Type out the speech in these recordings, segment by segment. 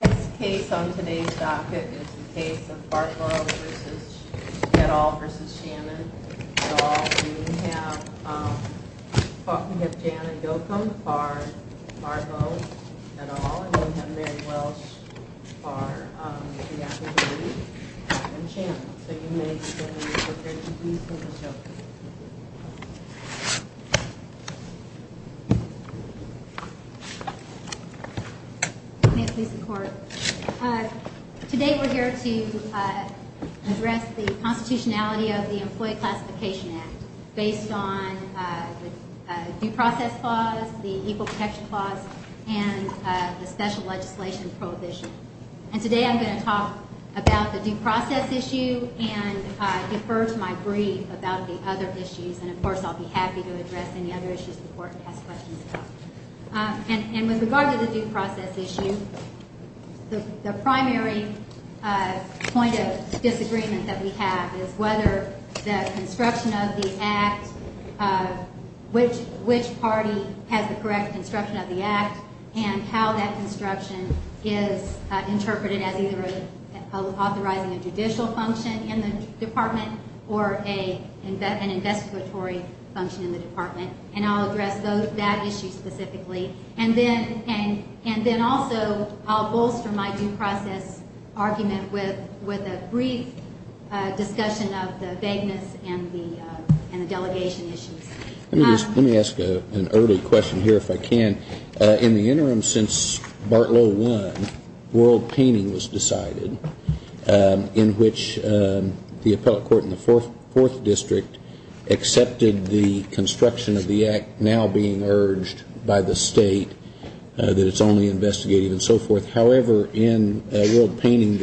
This case on today's docket is the case of Fargo v. Shettall v. Shannon. We have Janet Doakam, Fargo, Shettall, and we have Mary Welsh, Shettall, and Shannon. So you may stand up for your duties in the showcase. Today we're here to address the constitutionality of the Employee Classification Act based on the due process clause, the equal protection clause, and the special legislation prohibition. And today I'm going to talk about the due process issue and defer to my brief about the other issues, and of course I'll be happy to address any other issues the Court has questions about. And with regard to the due process issue, the primary point of disagreement that we have is whether the construction of the Act, which party has the correct construction of the Act, should be interpreted as either authorizing a judicial function in the Department or an investigatory function in the Department. And I'll address that issue specifically. And then also I'll bolster my due process argument with a brief discussion of the vagueness and the delegation issues. Let me ask an early question here if I can. In the interim since Bartlow won, world painting was decided in which the appellate court in the Fourth District accepted the construction of the Act now being urged by the State that it's only investigative and so forth. However, in world painting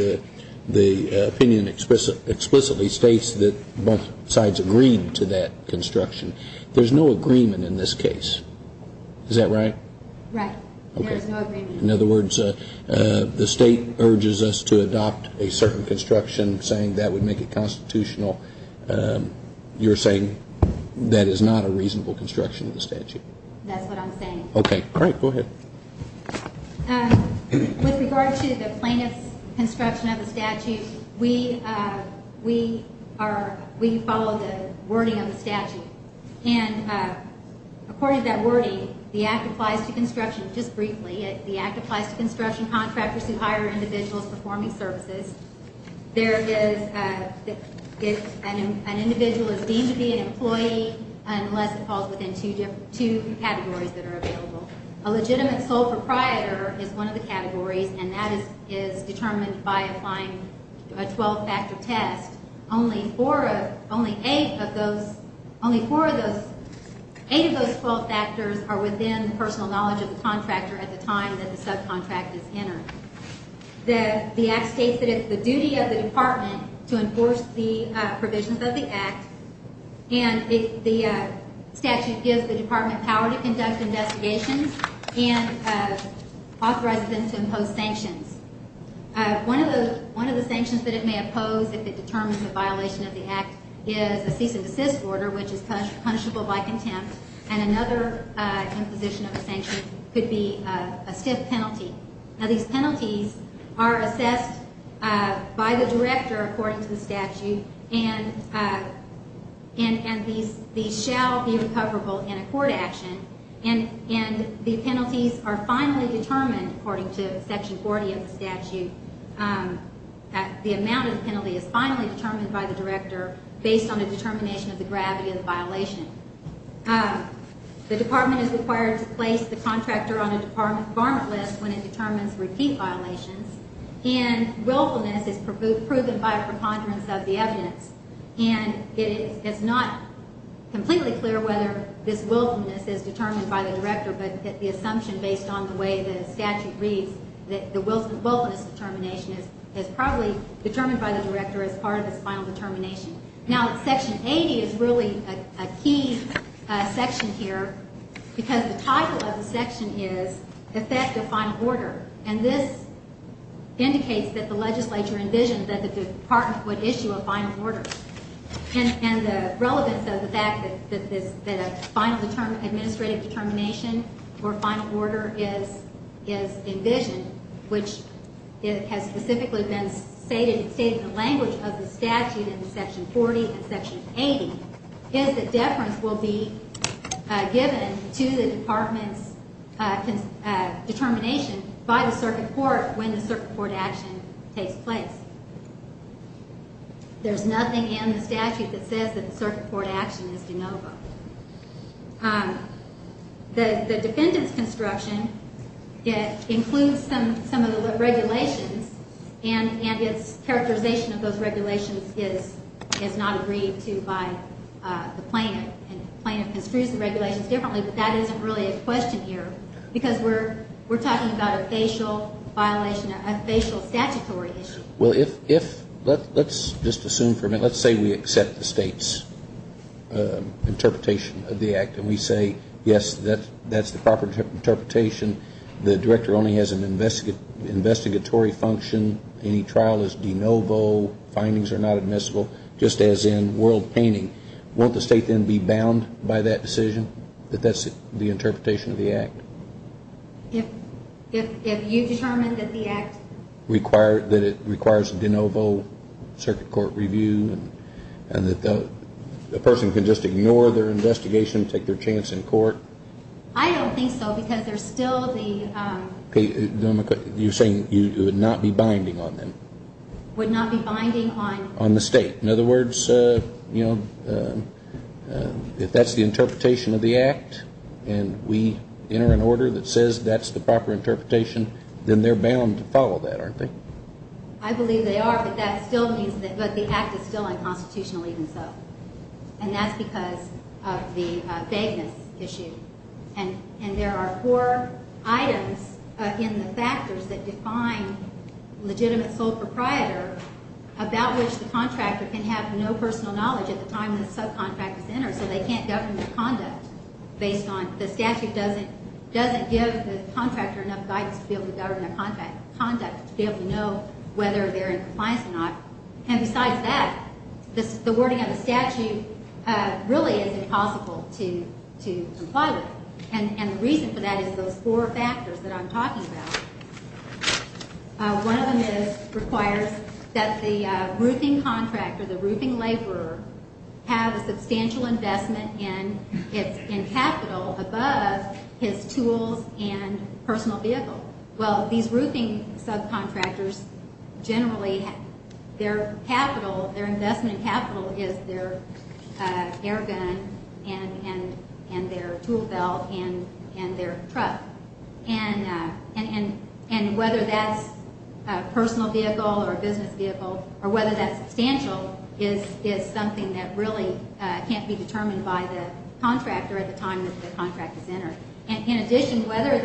the opinion explicitly states that both sides agreed to that construction. There's no agreement in this case. Is that right? Right. There's no agreement. In other words, the State urges us to adopt a certain construction saying that would make it constitutional. You're saying that is not a reasonable construction of the statute. That's what I'm saying. Okay. Great. Go ahead. With regard to the plaintiff's construction of the statute, we are, we follow the wording of the statute. And according to that wording, the Act applies to construction. Just briefly, the Act applies to construction contractors who hire individuals performing services. There is, an individual is deemed to be an employee unless it falls within two categories that are available. A legitimate sole proprietor is one of the categories and that is determined by applying a 12-factor test. Only four of, only eight of those, only four of those, eight of those 12 factors are within the personal knowledge of the contractor at the time that the subcontract is entered. The Act states that it's the duty of the Department to enforce the provisions of the Act. And the statute gives the Department power to conduct investigations and authorize them to impose sanctions. One of the, one of the sanctions that it may impose if it determines a violation of the Act is a cease and desist order, which is punishable by contempt. And another imposition of a sanction could be a stiff penalty. Now, these penalties are assessed by the Director, according to the statute, and these shall be recoverable in a court action. And the penalties are finally determined, according to Section 40 of the statute. The amount of the penalty is finally determined by the Director based on the determination of the gravity of the violation. The Department is required to place the contractor on a department list when it determines repeat violations. And willfulness is proven by a preponderance of the evidence. And it's not completely clear whether this willfulness is determined by the Director, but the assumption based on the way the statute reads that the willfulness determination is probably determined by the Director as part of its final determination. Now, Section 80 is really a key section here because the title of the section is Effect of Final Order. And this indicates that the legislature envisioned that the Department would issue a final order. And the relevance of the fact that a final administrative determination or final order is envisioned, which has specifically been stated in the language of the statute in Section 40 and Section 80, is that deference will be given to the Department's determination by the Circuit Court when the Circuit Court action takes place. There's nothing in the statute that says that the Circuit Court action is de novo. The defendant's construction includes some of the regulations, and its characterization of those regulations is not agreed to by the plaintiff. And the plaintiff construes the regulations differently, but that isn't really a question here because we're talking about a facial violation, a facial statutory issue. Well, if, let's just assume for a minute, let's say we accept the State's interpretation of the Act and we say, yes, that's the proper interpretation. The Director only has an investigatory function. Any trial is de novo. Findings are not admissible, just as in world painting. Won't the State then be bound by that decision that that's the interpretation of the Act? If you determine that the Act requires de novo Circuit Court review and that the person can just ignore their investigation, take their chance in court? I don't think so because there's still the... Okay, you're saying you would not be binding on them? Would not be binding on... On the State. In other words, you know, if that's the interpretation of the Act and we enter an order that says that's the proper interpretation, then they're bound to follow that, aren't they? I believe they are, but that still means that the Act is still unconstitutional even so. And that's because of the vagueness issue. And there are four items in the factors that define legitimate sole proprietor about which the contractor can have no personal knowledge at the time the subcontractors enter so they can't govern their conduct based on... The statute doesn't give the contractor enough guidance to be able to govern their conduct, to be able to know whether they're in compliance or not. And besides that, the wording of the statute really is impossible to comply with. And the reason for that is those four factors that I'm talking about. One of them is requires that the roofing contractor, the roofing laborer, have a substantial investment in capital above his tools and personal vehicle. Well, these roofing subcontractors generally their capital, their investment capital, is their air gun and their tool belt and their truck. And whether that's a personal vehicle or a business vehicle or whether that's substantial is something that really can't be determined by the contractor at the time that the contract is entered. And in addition, whether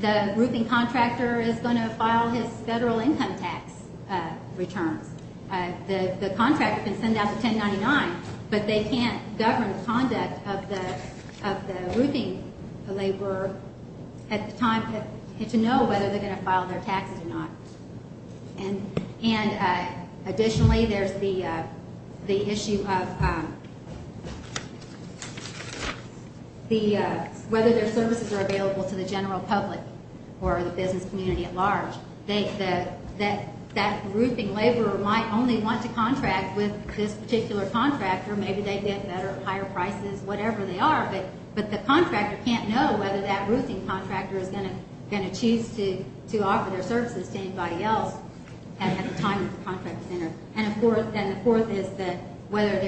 the roofing contractor is going to file his federal income tax returns. The contractor can send out the 1099, but they can't govern the conduct of the roofing laborer at the time to know whether they're going to file their taxes or not. And additionally, there's the issue of whether their services are available to the general public or the business community at large. That roofing laborer might only want to contract with this particular contractor. Maybe they get better, higher prices, whatever they are, but the contractor can't know whether that roofing contractor is going to choose to offer their services to anybody else at the time that the contract is entered. And the fourth is that whether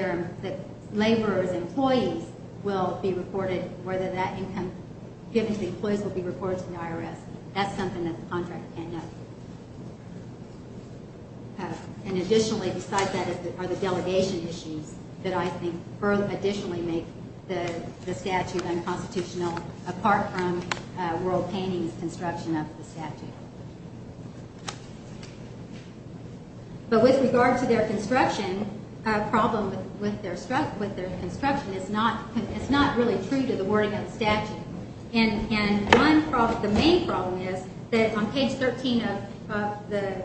the laborer's employees will be reported, whether that income given to the employees will be reported to the IRS. That's something that the contractor can't know. And additionally, besides that, are the delegation issues that I think additionally make the statute unconstitutional apart from World Painting's construction of the statute. But with regard to their construction, a problem with their construction is not really true to the wording of the statute. And the main problem is that on page 13 of the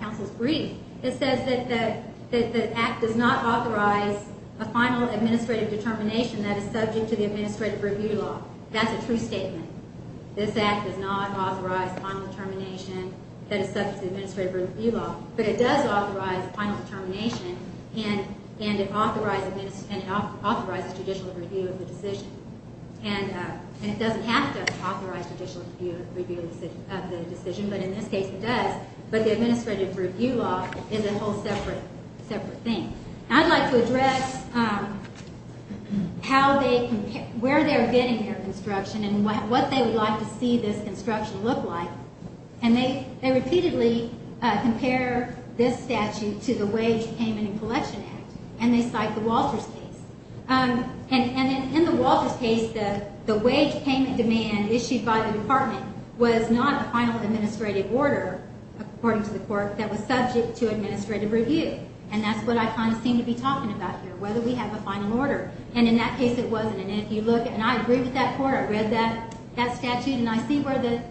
council's brief, it says that the act does not authorize a final administrative determination that is subject to the administrative review law. That's a true statement. This act does not authorize final determination that is subject to the administrative review law. But it does authorize final determination, and it authorizes judicial review of the decision. And it doesn't have to authorize judicial review of the decision, but in this case it does. But the administrative review law is a whole separate thing. I'd like to address where they're getting their construction and what they would like to see this construction look like. And they repeatedly compare this statute to the Wage Payment and Collection Act, and they cite the Walters case. And in the Walters case, the wage payment demand issued by the department was not a final administrative order, according to the court, that was subject to administrative review. And that's what I kind of seem to be talking about here, whether we have a final order. And in that case it wasn't. And I agree with that court. I read that statute, and I see where the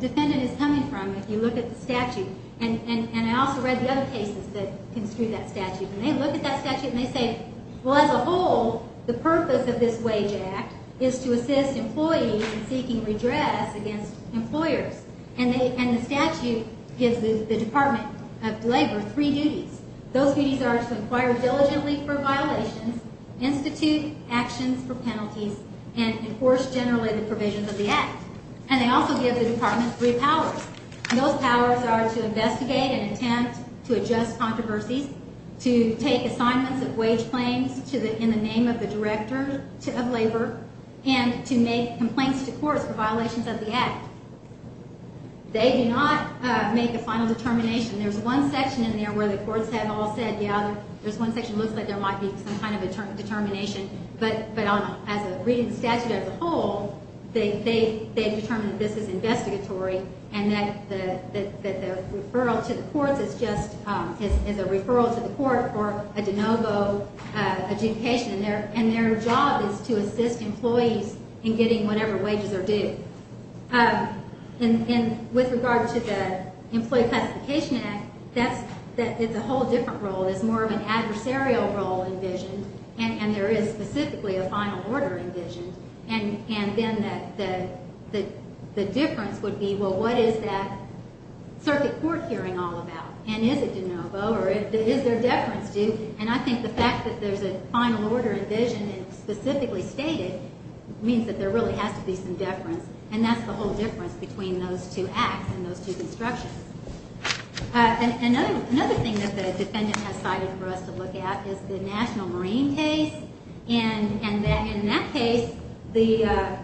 defendant is coming from if you look at the statute. And I also read the other cases that construed that statute. And they look at that statute and they say, well, as a whole, the purpose of this wage act is to assist employees in seeking redress against employers. And the statute gives the Department of Labor three duties. Those duties are to inquire diligently for violations, institute actions for penalties, and enforce generally the provisions of the act. And they also give the department three powers. And those powers are to investigate and attempt to adjust controversies, to take assignments of wage claims in the name of the director of labor, and to make complaints to courts for violations of the act. They do not make a final determination. There's one section in there where the courts have all said, yeah, there's one section that looks like there might be some kind of determination. But as a reading of the statute as a whole, they've determined that this is investigatory and that the referral to the courts is just a referral to the court for a de novo adjudication. And their job is to assist employees in getting whatever wages are due. And with regard to the Employee Classification Act, that's a whole different role. It's more of an adversarial role envisioned. And there is specifically a final order envisioned. And then the difference would be, well, what is that circuit court hearing all about? And is it de novo, or is there deference to? And I think the fact that there's a final order envisioned and specifically stated means that there really has to be some deference. And that's the whole difference between those two acts and those two constructions. Another thing that the defendant has cited for us to look at is the National Marine case. And in that case, they had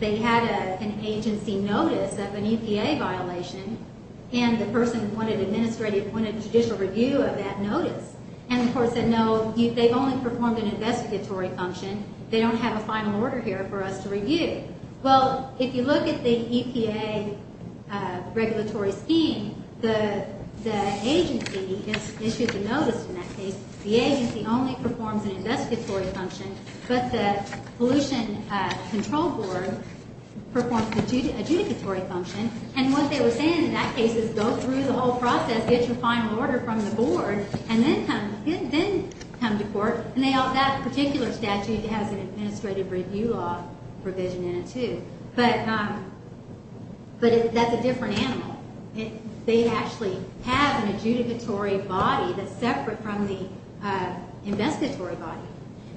an agency notice of an EPA violation, and the person appointed to judicial review of that notice. And the court said, no, they've only performed an investigatory function. They don't have a final order here for us to review. Well, if you look at the EPA regulatory scheme, the agency issued the notice in that case. The agency only performs an investigatory function, but the Pollution Control Board performs the adjudicatory function. And what they were saying in that case is go through the whole process, get your final order from the board, and then come to court. And that particular statute has an administrative review law provision in it, too. But that's a different animal. They actually have an adjudicatory body that's separate from the investigatory body.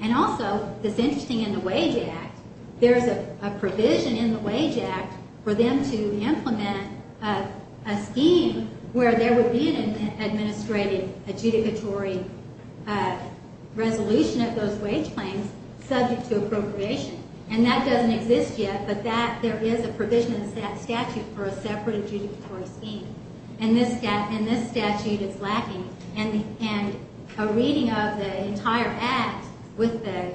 And also, it's interesting, in the Wage Act, there's a provision in the Wage Act for them to implement a scheme where there would be an administrative adjudicatory resolution of those wage claims subject to appropriation. And that doesn't exist yet, but there is a provision in the statute for a separate adjudicatory scheme. And this statute is lacking. And a reading of the entire Act with the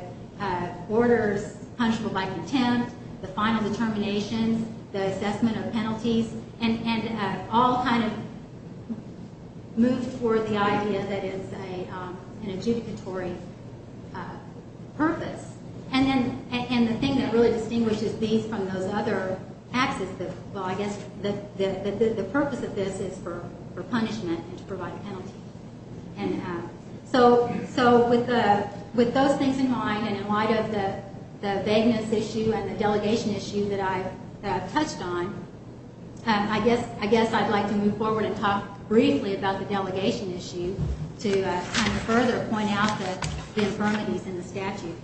orders punishable by contempt, the final determinations, the assessment of penalties, and all kind of move toward the idea that it's an adjudicatory purpose. And the thing that really distinguishes these from those other Acts is that, well, I guess the purpose of this is for punishment and to provide a penalty. So with those things in mind, and in light of the vagueness issue and the delegation issue that I've touched on, I guess I'd like to move forward and talk briefly about the delegation issue to kind of further point out the infirmities in the statute.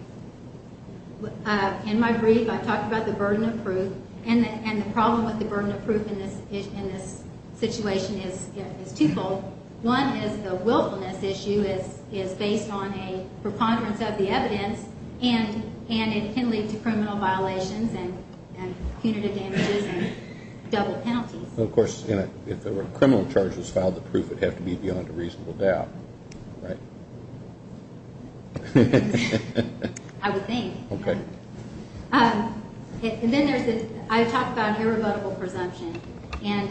In my brief, I've talked about the burden of proof, and the problem with the burden of proof in this situation is twofold. One is the willfulness issue is based on a preponderance of the evidence, and it can lead to criminal violations and punitive damages and double penalties. Well, of course, if a criminal charge was filed, the proof would have to be beyond a reasonable doubt, right? I would think. Okay. And then I talked about irrevotable presumption, and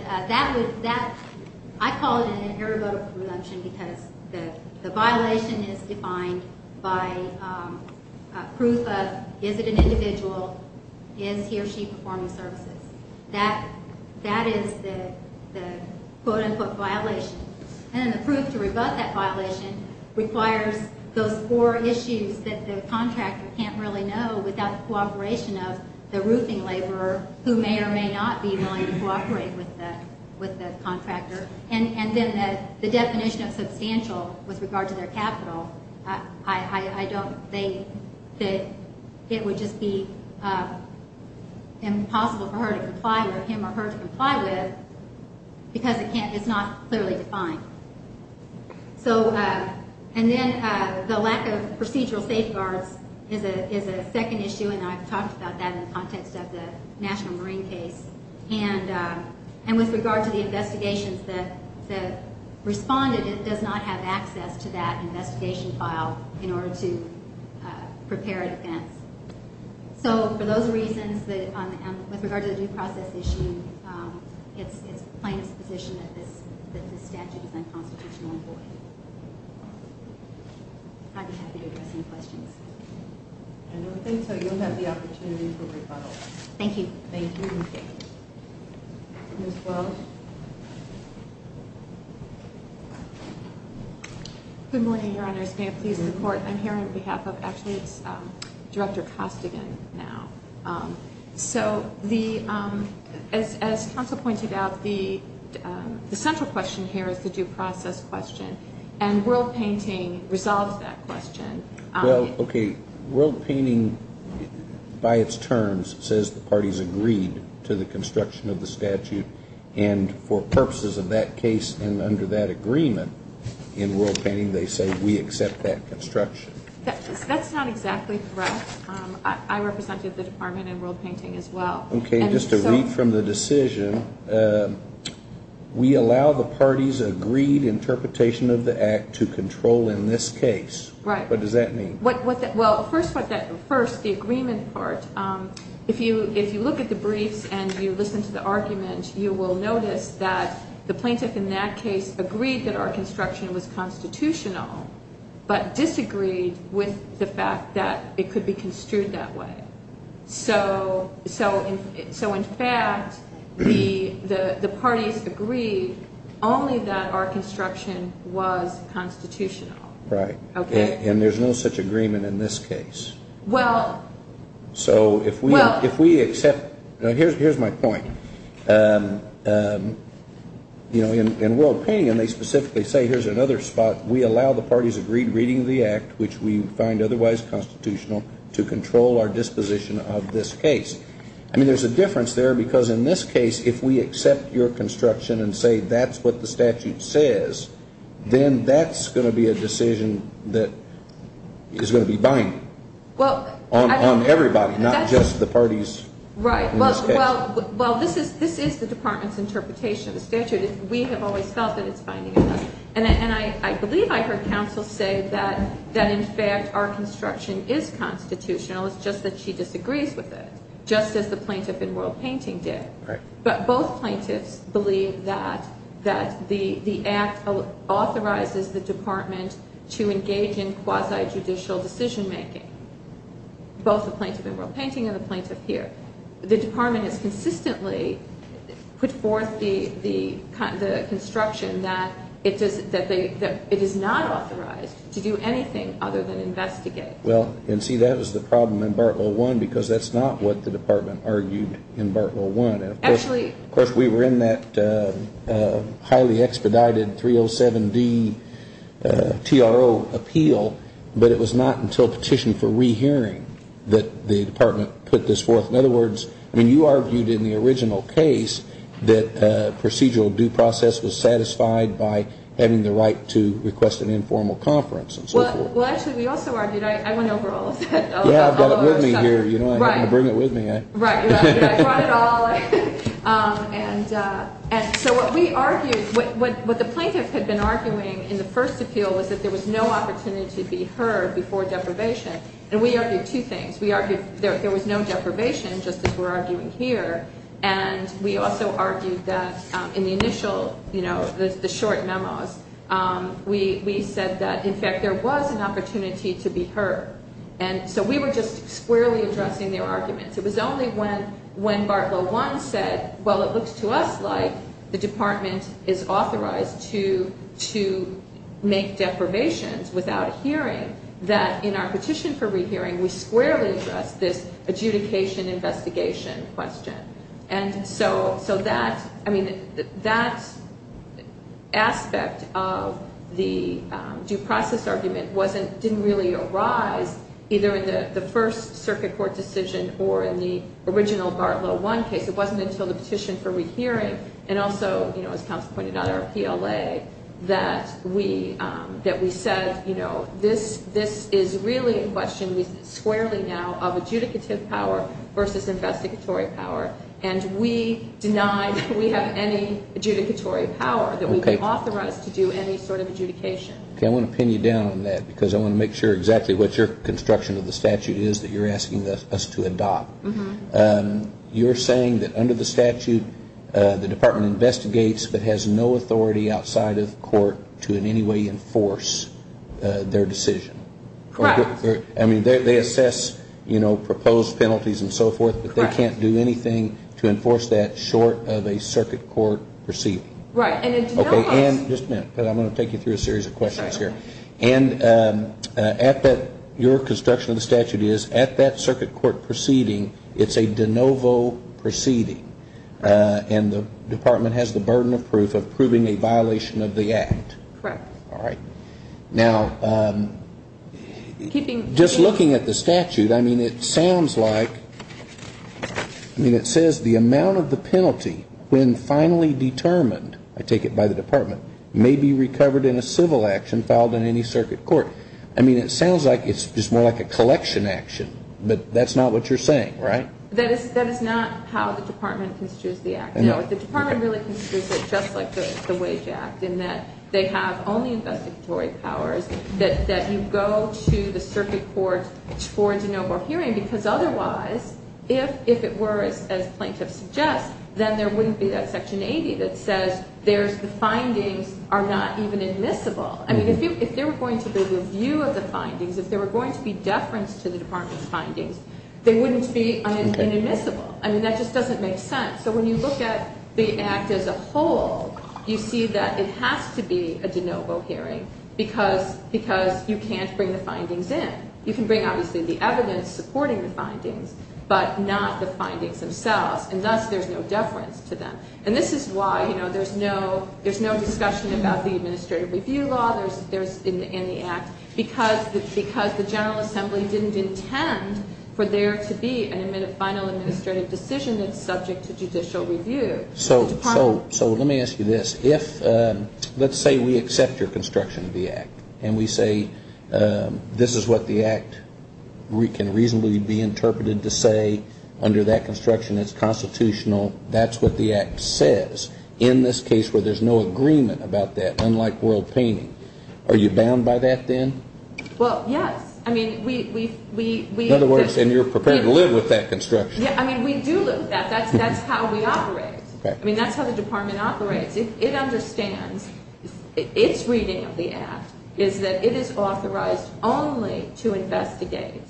I call it an irrevotable presumption because the violation is defined by proof of, is it an individual, is he or she performing services? That is the quote-unquote violation. And then the proof to rebut that violation requires those four issues that the contractor can't really know without the cooperation of the roofing laborer who may or may not be willing to cooperate with the contractor. And then the definition of substantial with regard to their capital, I don't think that it would just be impossible for her to comply with him because it's not clearly defined. And then the lack of procedural safeguards is a second issue, and I've talked about that in the context of the national marine case. And with regard to the investigations, the respondent does not have access to that investigation file in order to prepare a defense. So for those reasons, with regard to the due process issue, it's plain exposition that this statute is unconstitutional and void. I'd be happy to address any questions. I don't think so. You'll have the opportunity for rebuttal. Thank you. Thank you. Ms. Welch? Good morning, Your Honors. May I please report? I'm here on behalf of, actually, it's Director Costigan now. So as counsel pointed out, the central question here is the due process question, and World Painting resolves that question. Well, okay, World Painting, by its terms, says the parties agreed to the construction of the statute, and for purposes of that case and under that agreement in World Painting, they say we accept that construction. That's not exactly correct. I represented the department in World Painting as well. Okay, just to read from the decision, we allow the parties agreed interpretation of the act to control in this case. Right. What does that mean? Well, first, the agreement part, if you look at the briefs and you listen to the argument, you will notice that the plaintiff in that case agreed that our construction was constitutional, but disagreed with the fact that it could be construed that way. So in fact, the parties agreed only that our construction was constitutional. Right. Okay. And there's no such agreement in this case. Well. So if we accept, here's my point. You know, in World Painting, and they specifically say here's another spot, we allow the parties agreed reading of the act, which we find otherwise constitutional, to control our disposition of this case. I mean, there's a difference there because in this case, if we accept your construction and say that's what the statute says, then that's going to be a decision that is going to be binding on everybody, not just the parties in this case. Right. Well, this is the department's interpretation of the statute. We have always felt that it's binding on us. And I believe I heard counsel say that in fact our construction is constitutional. It's just that she disagrees with it, just as the plaintiff in World Painting did. Right. But both plaintiffs believe that the act authorizes the department to engage in quasi-judicial decision-making, both the plaintiff in World Painting and the plaintiff here. The department has consistently put forth the construction that it is not authorized to do anything other than investigate. Well, and see, that is the problem in Part 101 because that's not what the department argued in Part 101. Actually. Of course, we were in that highly expedited 307D TRO appeal, but it was not until petition for rehearing that the department put this forth. In other words, I mean, you argued in the original case that procedural due process was satisfied by having the right to request an informal conference and so forth. Well, actually, we also argued, I went over all of that. Yeah, I brought it with me here. Right. You know, I'm going to bring it with me. Right, right. I brought it all. And so what we argued, what the plaintiff had been arguing in the first appeal was that there was no opportunity to be heard before deprivation. And we argued two things. We argued there was no deprivation, just as we're arguing here. And we also argued that in the initial, you know, the short memos, we said that, in fact, there was an opportunity to be heard. And so we were just squarely addressing their arguments. It was only when Bartlow 1 said, well, it looks to us like the department is authorized to make deprivations without a hearing, that in our petition for rehearing, we squarely addressed this adjudication investigation question. And so that, I mean, that aspect of the due process argument didn't really arise either in the first circuit court decision or in the original Bartlow 1 case. It wasn't until the petition for rehearing and also, you know, as counsel pointed out, our PLA, that we said, you know, this is really a question squarely now of adjudicative power versus investigatory power. And we deny that we have any adjudicatory power, that we've been authorized to do any sort of adjudication. Okay. I want to pin you down on that because I want to make sure exactly what your construction of the statute is that you're asking us to adopt. You're saying that under the statute, the department investigates but has no authority outside of court to in any way enforce their decision. Correct. I mean, they assess, you know, proposed penalties and so forth. Correct. But they can't do anything to enforce that short of a circuit court proceeding. Right. And it denies. Okay. And just a minute because I'm going to take you through a series of questions here. Sure. And at that, your construction of the statute is at that circuit court proceeding, it's a de novo proceeding. And the department has the burden of proof of proving a violation of the act. Correct. All right. Now, just looking at the statute, I mean, it sounds like, I mean, it says the amount of the penalty when finally determined, I take it by the department, may be recovered in a civil action filed in any circuit court. I mean, it sounds like it's just more like a collection action, but that's not what you're saying, right? That is not how the department construes the act. No. The department really construes it just like the wage act in that they have only investigatory powers that you go to the circuit court for a de novo hearing because otherwise, if it were, as plaintiff suggests, then there wouldn't be that section 80 that says there's the findings are not even admissible. I mean, if there were going to be review of the findings, if there were going to be deference to the department's findings, they wouldn't be inadmissible. Okay. I mean, that just doesn't make sense. So when you look at the act as a whole, you see that it has to be a de novo hearing because you can't bring the findings in. You can bring obviously the evidence supporting the findings, but not the findings themselves. And thus, there's no deference to them. And this is why, you know, there's no discussion about the administrative review law in the act because the general assembly didn't intend for there to be a final administrative decision that's subject to judicial review. So let me ask you this. If let's say we accept your construction of the act and we say this is what the act can reasonably be interpreted to say under that construction it's constitutional, that's what the act says. In this case where there's no agreement about that, unlike world painting, are you bound by that then? Well, yes. I mean, we – In other words, and you're prepared to live with that construction. I mean, we do live with that. That's how we operate. Okay. I mean, that's how the department operates. It understands its reading of the act is that it is authorized only to investigate,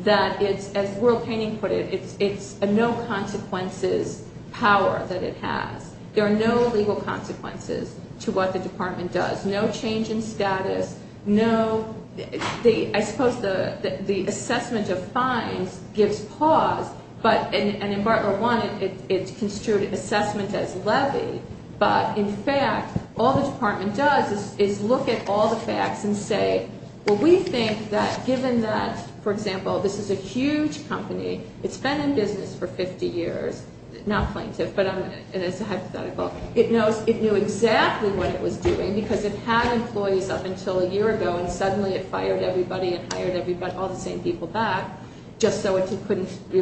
that it's, as world painting put it, it's a no consequences power that it has. There are no legal consequences to what the department does. No change in status, no – I suppose the assessment of fines gives pause. But – and in Part 1 it's construed assessment as levy. But, in fact, all the department does is look at all the facts and say, well, we think that given that, for example, this is a huge company. It's been in business for 50 years. Not plaintiff, but it's a hypothetical. It knows – it knew exactly what it was doing because it had employees up until a year ago and suddenly it fired everybody and hired all the same people back just so it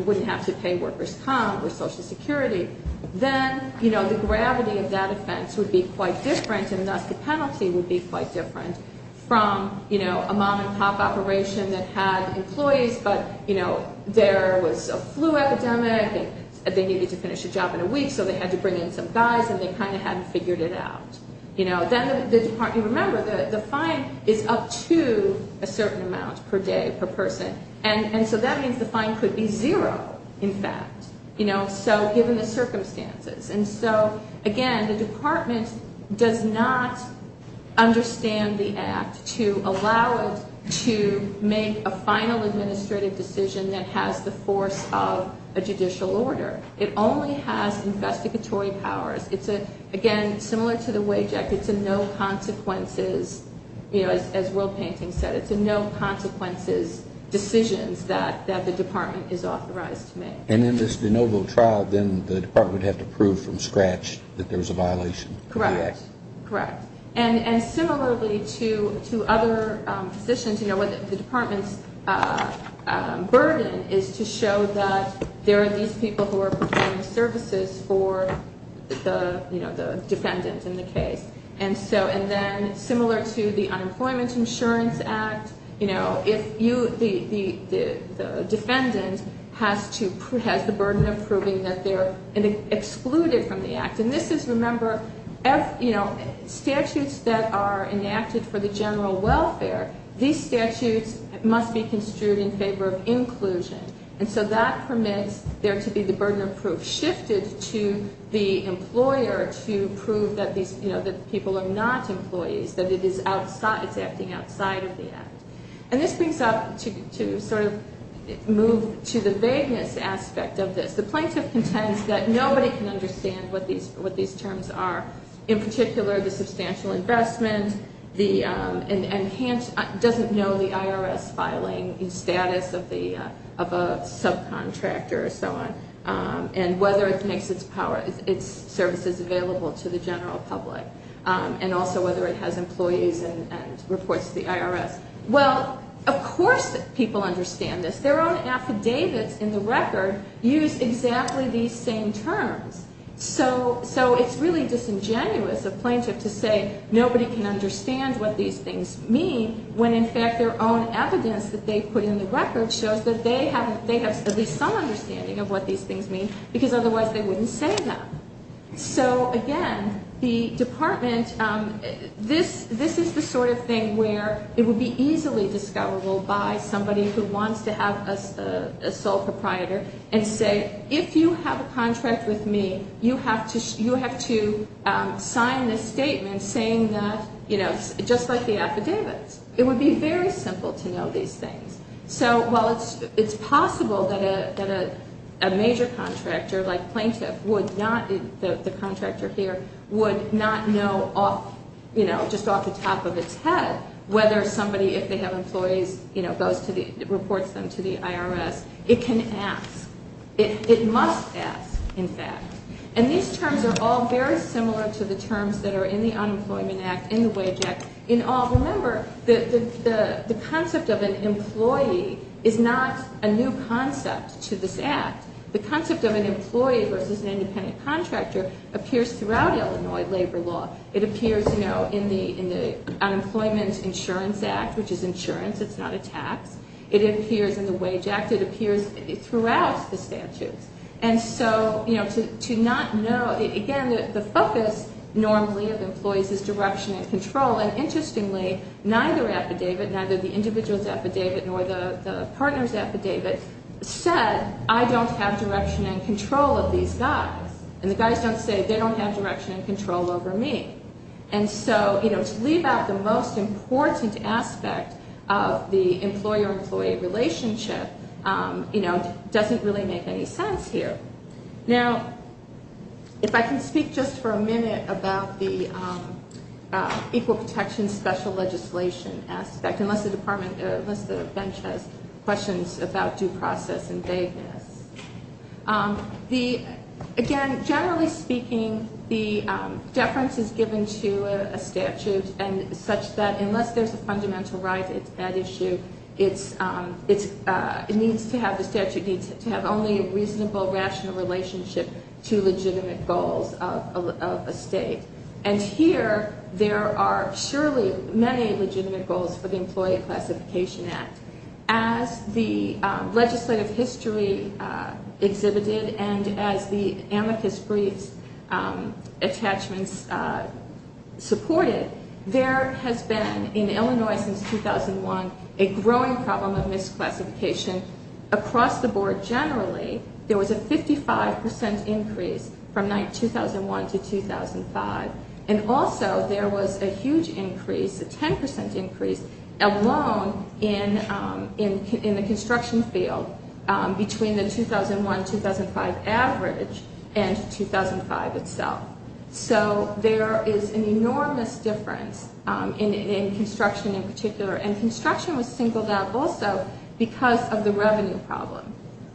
wouldn't have to pay workers' comp with Social Security. Then, you know, the gravity of that offense would be quite different and thus the penalty would be quite different from, you know, a mom and pop operation that had employees but, you know, there was a flu epidemic. They needed to finish a job in a week so they had to bring in some guys and they kind of hadn't figured it out, you know. Then the department – remember, the fine is up to a certain amount per day, per person. And so that means the fine could be zero, in fact, you know, so given the circumstances. And so, again, the department does not understand the act to allow it to make a final administrative decision that has the force of a judicial order. It only has investigatory powers. It's a – again, similar to the Wage Act, it's a no consequences, you know, as Will Panting said, it's a no consequences decisions that the department is authorized to make. And in this de novo trial, then the department would have to prove from scratch that there was a violation of the act? Correct. Correct. And similarly to other positions, you know, the department's burden is to show that there are these people who are providing services for the, you know, the defendant in the case. And so – and then similar to the Unemployment Insurance Act, you know, if you – the defendant has to – has the burden of proving that they're excluded from the act. And this is – remember, you know, statutes that are enacted for the general welfare, these statutes must be construed in favor of inclusion. And so that permits there to be the burden of proof shifted to the employer to prove that these, you know, that people are not employees, that it is outside – it's acting outside of the act. And this brings up to sort of move to the vagueness aspect of this. The plaintiff contends that nobody can understand what these terms are. In particular, the substantial investment, the – and can't – doesn't know the IRS filing status of the – of a subcontractor or so on. And whether it makes its power – its services available to the general public. And also whether it has employees and reports to the IRS. Well, of course people understand this. Their own affidavits in the record use exactly these same terms. So it's really disingenuous of plaintiff to say nobody can understand what these things mean when in fact their own evidence that they put in the record shows that they have – they have at least some understanding of what these things mean because otherwise they wouldn't say them. So again, the department – this is the sort of thing where it would be easily discoverable by somebody who wants to have a sole proprietor and say, if you have a contract with me, you have to sign this statement saying that, you know, just like the affidavits. It would be very simple to know these things. So while it's possible that a major contractor like plaintiff would not – the contractor here would not know off – you know, just off the top of its head whether somebody, if they have employees, you know, goes to the – reports them to the IRS. It can ask. It must ask, in fact. And these terms are all very similar to the terms that are in the Unemployment Act, in the Wage Act. Remember, the concept of an employee is not a new concept to this Act. The concept of an employee versus an independent contractor appears throughout Illinois labor law. It appears, you know, in the Unemployment Insurance Act, which is insurance. It's not a tax. It appears in the Wage Act. It appears throughout the statutes. And so, you know, to not know – again, the focus normally of employees is direction and control. And interestingly, neither affidavit, neither the individual's affidavit nor the partner's affidavit said, I don't have direction and control of these guys. And the guys don't say they don't have direction and control over me. And so, you know, to leave out the most important aspect of the employer-employee relationship, you know, doesn't really make any sense here. Now, if I can speak just for a minute about the Equal Protection Special Legislation aspect, unless the department – unless the bench has questions about due process and vagueness. The – again, generally speaking, the deference is given to a statute and such that unless there's a fundamental right at issue, it needs to have – the statute needs to have only a reasonable, rational relationship to legitimate goals of a state. And here, there are surely many legitimate goals for the Employee Classification Act. As the legislative history exhibited and as the amicus briefs attachments supported, there has been, in Illinois since 2001, a growing problem of misclassification across the board. Generally, there was a 55 percent increase from 2001 to 2005. And also, there was a huge increase, a 10 percent increase alone in the construction field between the 2001-2005 average and 2005 itself. So there is an enormous difference in construction in particular. And construction was singled out also because of the revenue problem.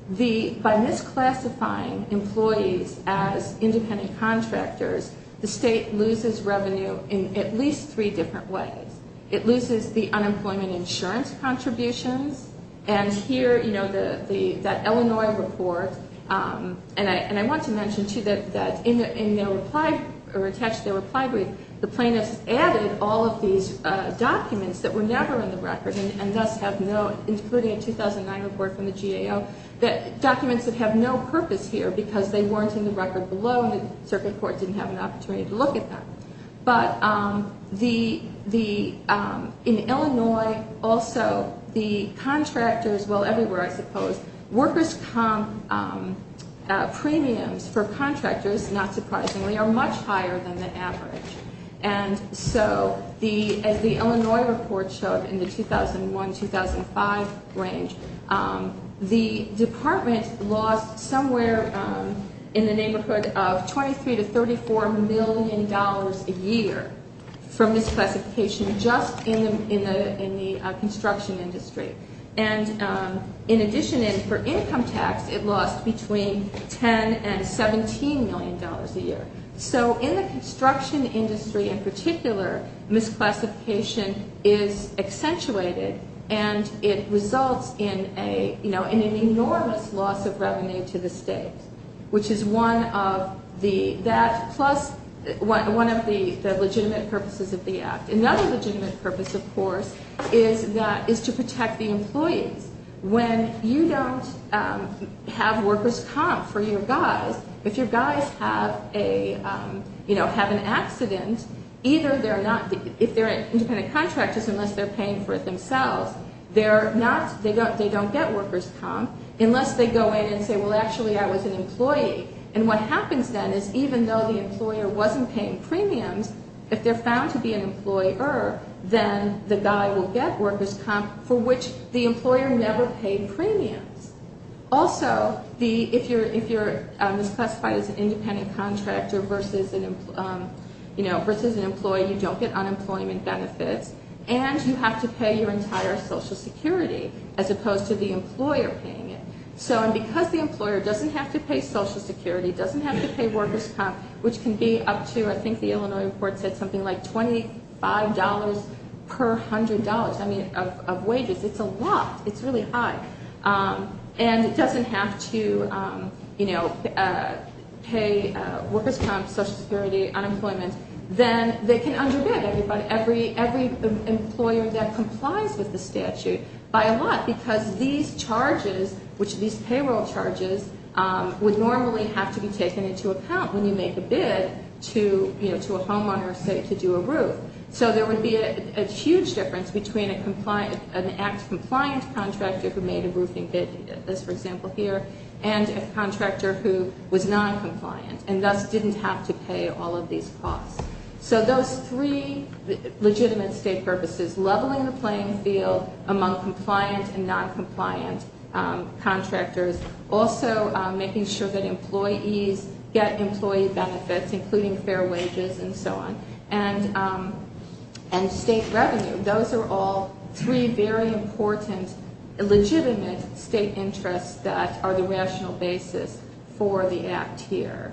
The – by misclassifying employees as independent contractors, the state loses revenue in at least three different ways. It loses the unemployment insurance contributions. And here, you know, the – that Illinois report – and I want to mention, too, that in their reply – or attached to their reply brief, the plaintiffs added all of these documents that were never in the record and thus have no – including a 2009 report from the GAO – documents that have no purpose here because they weren't in the record below and the circuit court didn't have an opportunity to look at them. But the – in Illinois, also, the contractors – well, everywhere, I suppose – workers' comp premiums for contractors, not surprisingly, are much higher than the average. And so the – as the Illinois report showed in the 2001-2005 range, the department lost somewhere in the neighborhood of 23 to 34 million dollars a year from misclassification just in the construction industry. And in addition, for income tax, it lost between 10 and 17 million dollars a year. So in the construction industry in particular, misclassification is accentuated and it results in a – you know, in an enormous loss of revenue to the state, which is one of the – that plus one of the legitimate purposes of the act. Another legitimate purpose, of course, is that – is to protect the employees. When you don't have workers' comp for your guys, if your guys have a – you know, have an accident, either they're not – if they're independent contractors, unless they're paying for it themselves, they're not – they don't get workers' comp unless they go in and say, well, actually, I was an employee. And what happens then is even though the employer wasn't paying premiums, if they're found to be an employer, then the guy will get workers' comp for which the employer never paid premiums. Also, the – if you're – if you're misclassified as an independent contractor versus an – you know, versus an employee, you don't get unemployment benefits and you have to pay your entire Social Security as opposed to the employer paying it. So – and because the employer doesn't have to pay Social Security, doesn't have to pay workers' comp, which can be up to – I think the Illinois report said something like $25 per hundred dollars. I mean, of wages. It's a lot. It's really high. And it doesn't have to, you know, pay workers' comp, Social Security, unemployment. Then they can underbid everybody. Every – every employer that complies with the statute by a lot because these charges, which – these payroll charges would normally have to be taken into account when you make a bid to, you know, to a homeowner, say, to do a roof. So there would be a huge difference between a compliant – an act-compliant contractor who made a roofing bid, as for example here, and a contractor who was non-compliant and thus didn't have to pay all of these costs. So those three legitimate state purposes, leveling the playing field among compliant and non-compliant contractors, also making sure that employees get employee benefits, including fair wages and so on, and state revenue. Those are all three very important legitimate state interests that are the rational basis for the act here.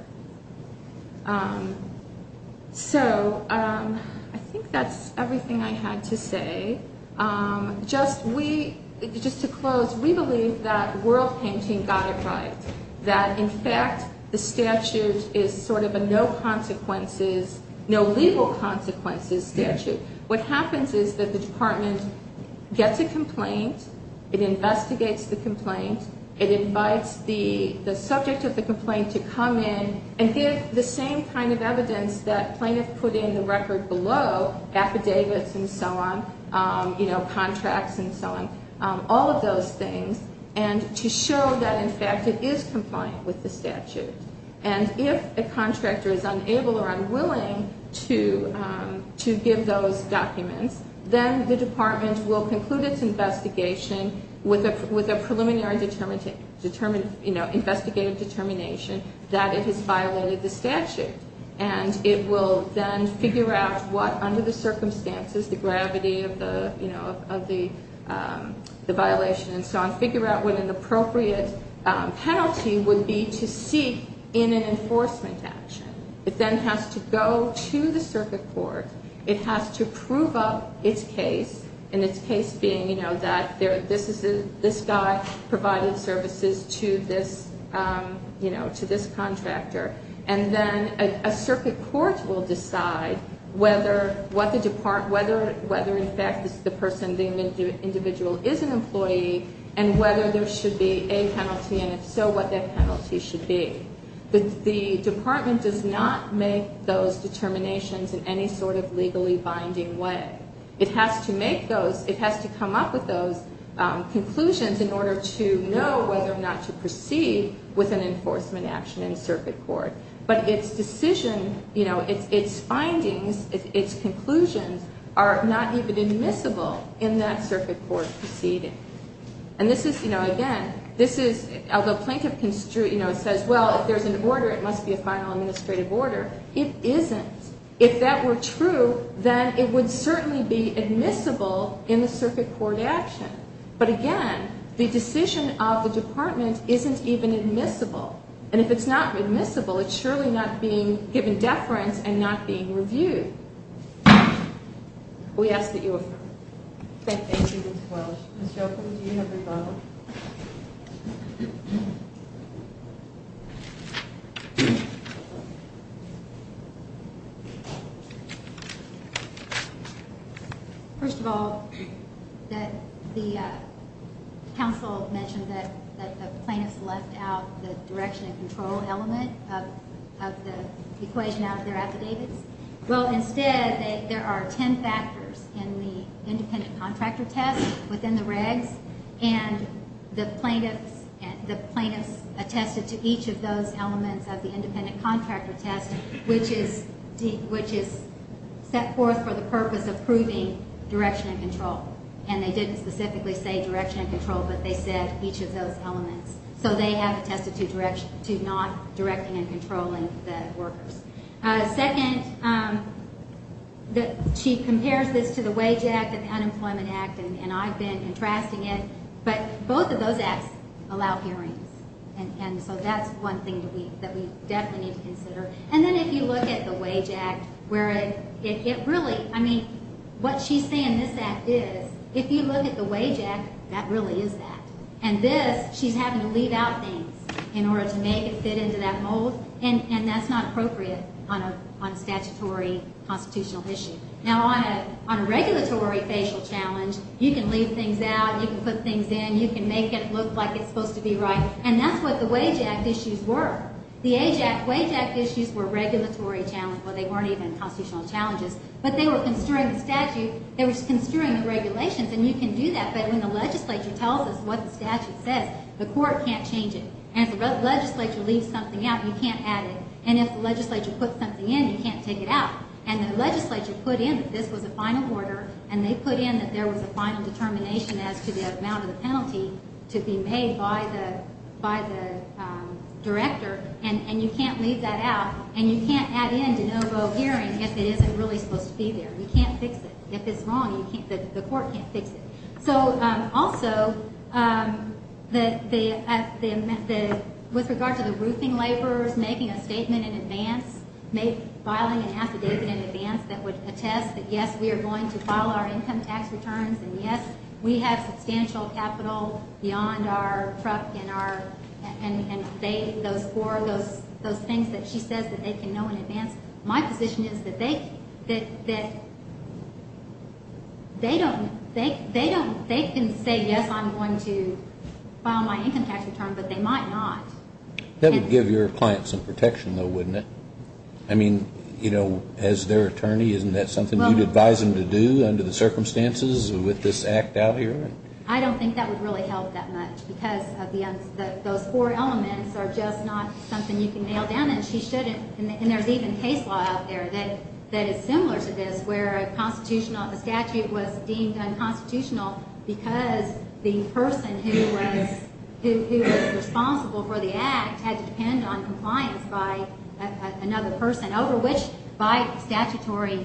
So I think that's everything I had to say. Just we – just to close, we believe that world painting got it right, that, in fact, the statute is sort of a no consequences – no legal consequences statute. What happens is that the department gets a complaint, it investigates the complaint, it invites the subject of the complaint to come in and give the same kind of evidence that plaintiff put in the record below, affidavits and so on, you know, contracts and so on, all of those things, and to show that, in fact, it is compliant with the statute. And if a contractor is unable or unwilling to give those documents, then the department will conclude its investigation with a preliminary, you know, investigative determination that it has violated the statute. And it will then figure out what, under the circumstances, the gravity of the, you know, of the violation and so on, it will figure out what an appropriate penalty would be to seek in an enforcement action. It then has to go to the circuit court. It has to prove up its case, and its case being, you know, that this is – this guy provided services to this, you know, to this contractor. And then a circuit court will decide whether what the – whether, in fact, this is the person, the individual is an employee, and whether there should be a penalty, and if so, what that penalty should be. But the department does not make those determinations in any sort of legally binding way. It has to make those – it has to come up with those conclusions in order to know whether or not to proceed with an enforcement action in circuit court. But its decision, you know, its findings, its conclusions are not even admissible in that circuit court proceeding. And this is, you know, again, this is – although plaintiff, you know, says, well, if there's an order, it must be a final administrative order. It isn't. If that were true, then it would certainly be admissible in the circuit court action. But again, the decision of the department isn't even admissible. And if it's not admissible, it's surely not being given deference and not being reviewed. We ask that you affirm. Thank you, Ms. Welsh. Ms. Jochum, do you have a rebuttal? First of all, the counsel mentioned that the plaintiffs left out the direction and control element of the equation out of their affidavits. Well, instead, there are ten factors in the independent contractor test within the regs. And the plaintiffs attested to each of those elements of the independent contractor test, which is set forth for the purpose of proving direction and control. And they didn't specifically say direction and control, but they said each of those elements. So they have attested to direction – to not directing and controlling the workers. Second, she compares this to the Wage Act and the Unemployment Act, and I've been contrasting it. But both of those acts allow hearings. And so that's one thing that we definitely need to consider. And then if you look at the Wage Act, where it really – I mean, what she's saying in this act is, if you look at the Wage Act, that really is that. And this, she's having to leave out things in order to make it fit into that mold, and that's not appropriate on a statutory constitutional issue. Now, on a regulatory facial challenge, you can leave things out, you can put things in, you can make it look like it's supposed to be right. And that's what the Wage Act issues were. The Wage Act issues were regulatory challenges. Well, they weren't even constitutional challenges. But they were construing the statute. They were construing the regulations. And you can do that, but when the legislature tells us what the statute says, the court can't change it. And if the legislature leaves something out, you can't add it. And if the legislature puts something in, you can't take it out. And the legislature put in that this was a final order, and they put in that there was a final determination as to the amount of the penalty to be made by the director, and you can't leave that out. And you can't add in de novo hearing if it isn't really supposed to be there. You can't fix it. If it's wrong, the court can't fix it. So, also, with regard to the roofing laborers making a statement in advance, filing an affidavit in advance that would attest that, yes, we are going to file our income tax returns, and, yes, we have substantial capital beyond our truck and those things that she says that they can know in advance. My position is that they can say, yes, I'm going to file my income tax return, but they might not. That would give your client some protection, though, wouldn't it? I mean, you know, as their attorney, isn't that something you'd advise them to do under the circumstances with this act out here? I don't think that would really help that much because those four elements are just not something you can nail down, and she shouldn't. And there's even case law out there that is similar to this where a constitutional statute was deemed unconstitutional because the person who was responsible for the act had to depend on compliance by another person over which, by statutory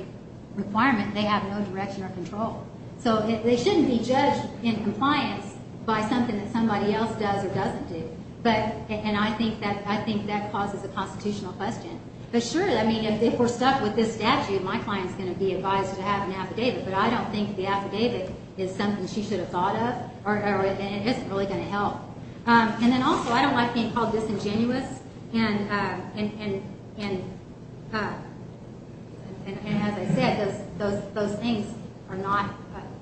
requirement, they have no direction or control. So they shouldn't be judged in compliance by something that somebody else does or doesn't do. And I think that causes a constitutional question. But, sure, I mean, if we're stuck with this statute, my client is going to be advised to have an affidavit, but I don't think the affidavit is something she should have thought of, or it isn't really going to help. And then also, I don't like being called disingenuous, and as I said, those things are not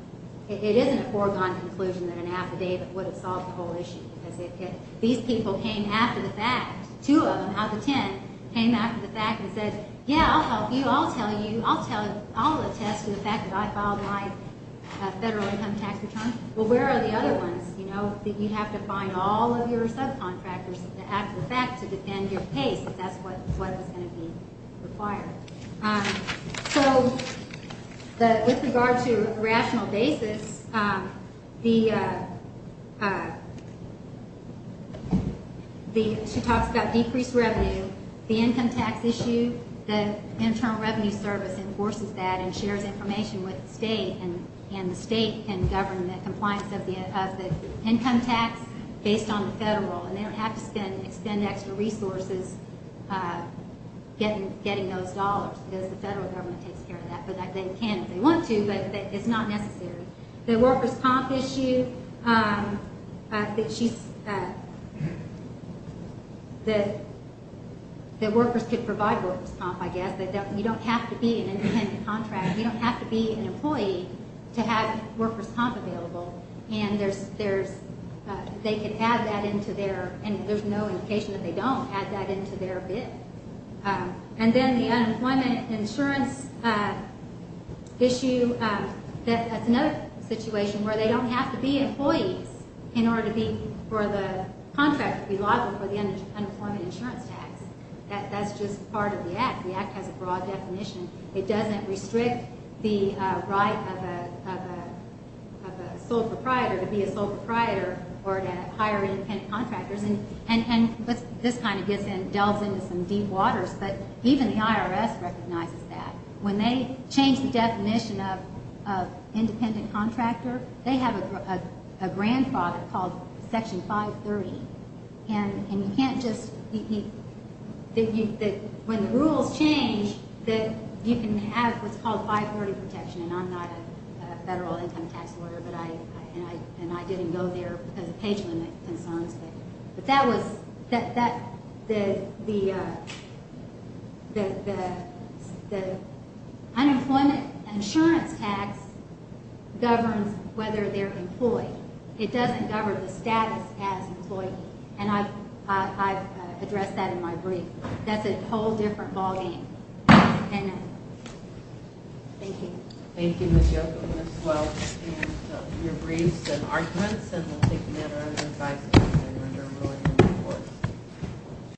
– it isn't a foregone conclusion that an affidavit would have solved the whole issue because these people came after the fact. Two of them out of the ten came after the fact and said, yeah, I'll help you. I'll tell you. I'll tell you. I'll attest to the fact that I filed my federal income tax return. Well, where are the other ones? You know, you have to find all of your subcontractors after the fact to defend your case. That's what was going to be required. So with regard to a rational basis, she talks about decreased revenue. The income tax issue, the Internal Revenue Service enforces that and shares information with the state, and the state can govern the compliance of the income tax based on the federal, and they don't have to spend extra resources getting those dollars because the federal government takes care of that. They can if they want to, but it's not necessary. The workers' comp issue, that workers could provide workers' comp, I guess. You don't have to be an independent contractor. You don't have to be an employee to have workers' comp available, and there's no indication that they don't add that into their bid. And then the unemployment insurance issue, that's another situation where they don't have to be employees in order for the contract to be liable for the unemployment insurance tax. That's just part of the Act. The Act has a broad definition. It doesn't restrict the right of a sole proprietor to be a sole proprietor or to hire independent contractors, and this kind of delves into some deep waters, but even the IRS recognizes that. When they change the definition of independent contractor, they have a grandfather called Section 530, and you can't just – when the rules change, you can have what's called 540 protection, and I'm not a federal income tax lawyer, and I didn't go there because of page limit concerns. But that was – the unemployment insurance tax governs whether they're employed. It doesn't govern the status as an employee, and I've addressed that in my brief. That's a whole different ballgame. Thank you. Thank you, Ms. Yocum, as well, for your briefs and arguments, and we'll take them at our own advice at the end when we're rolling them forward.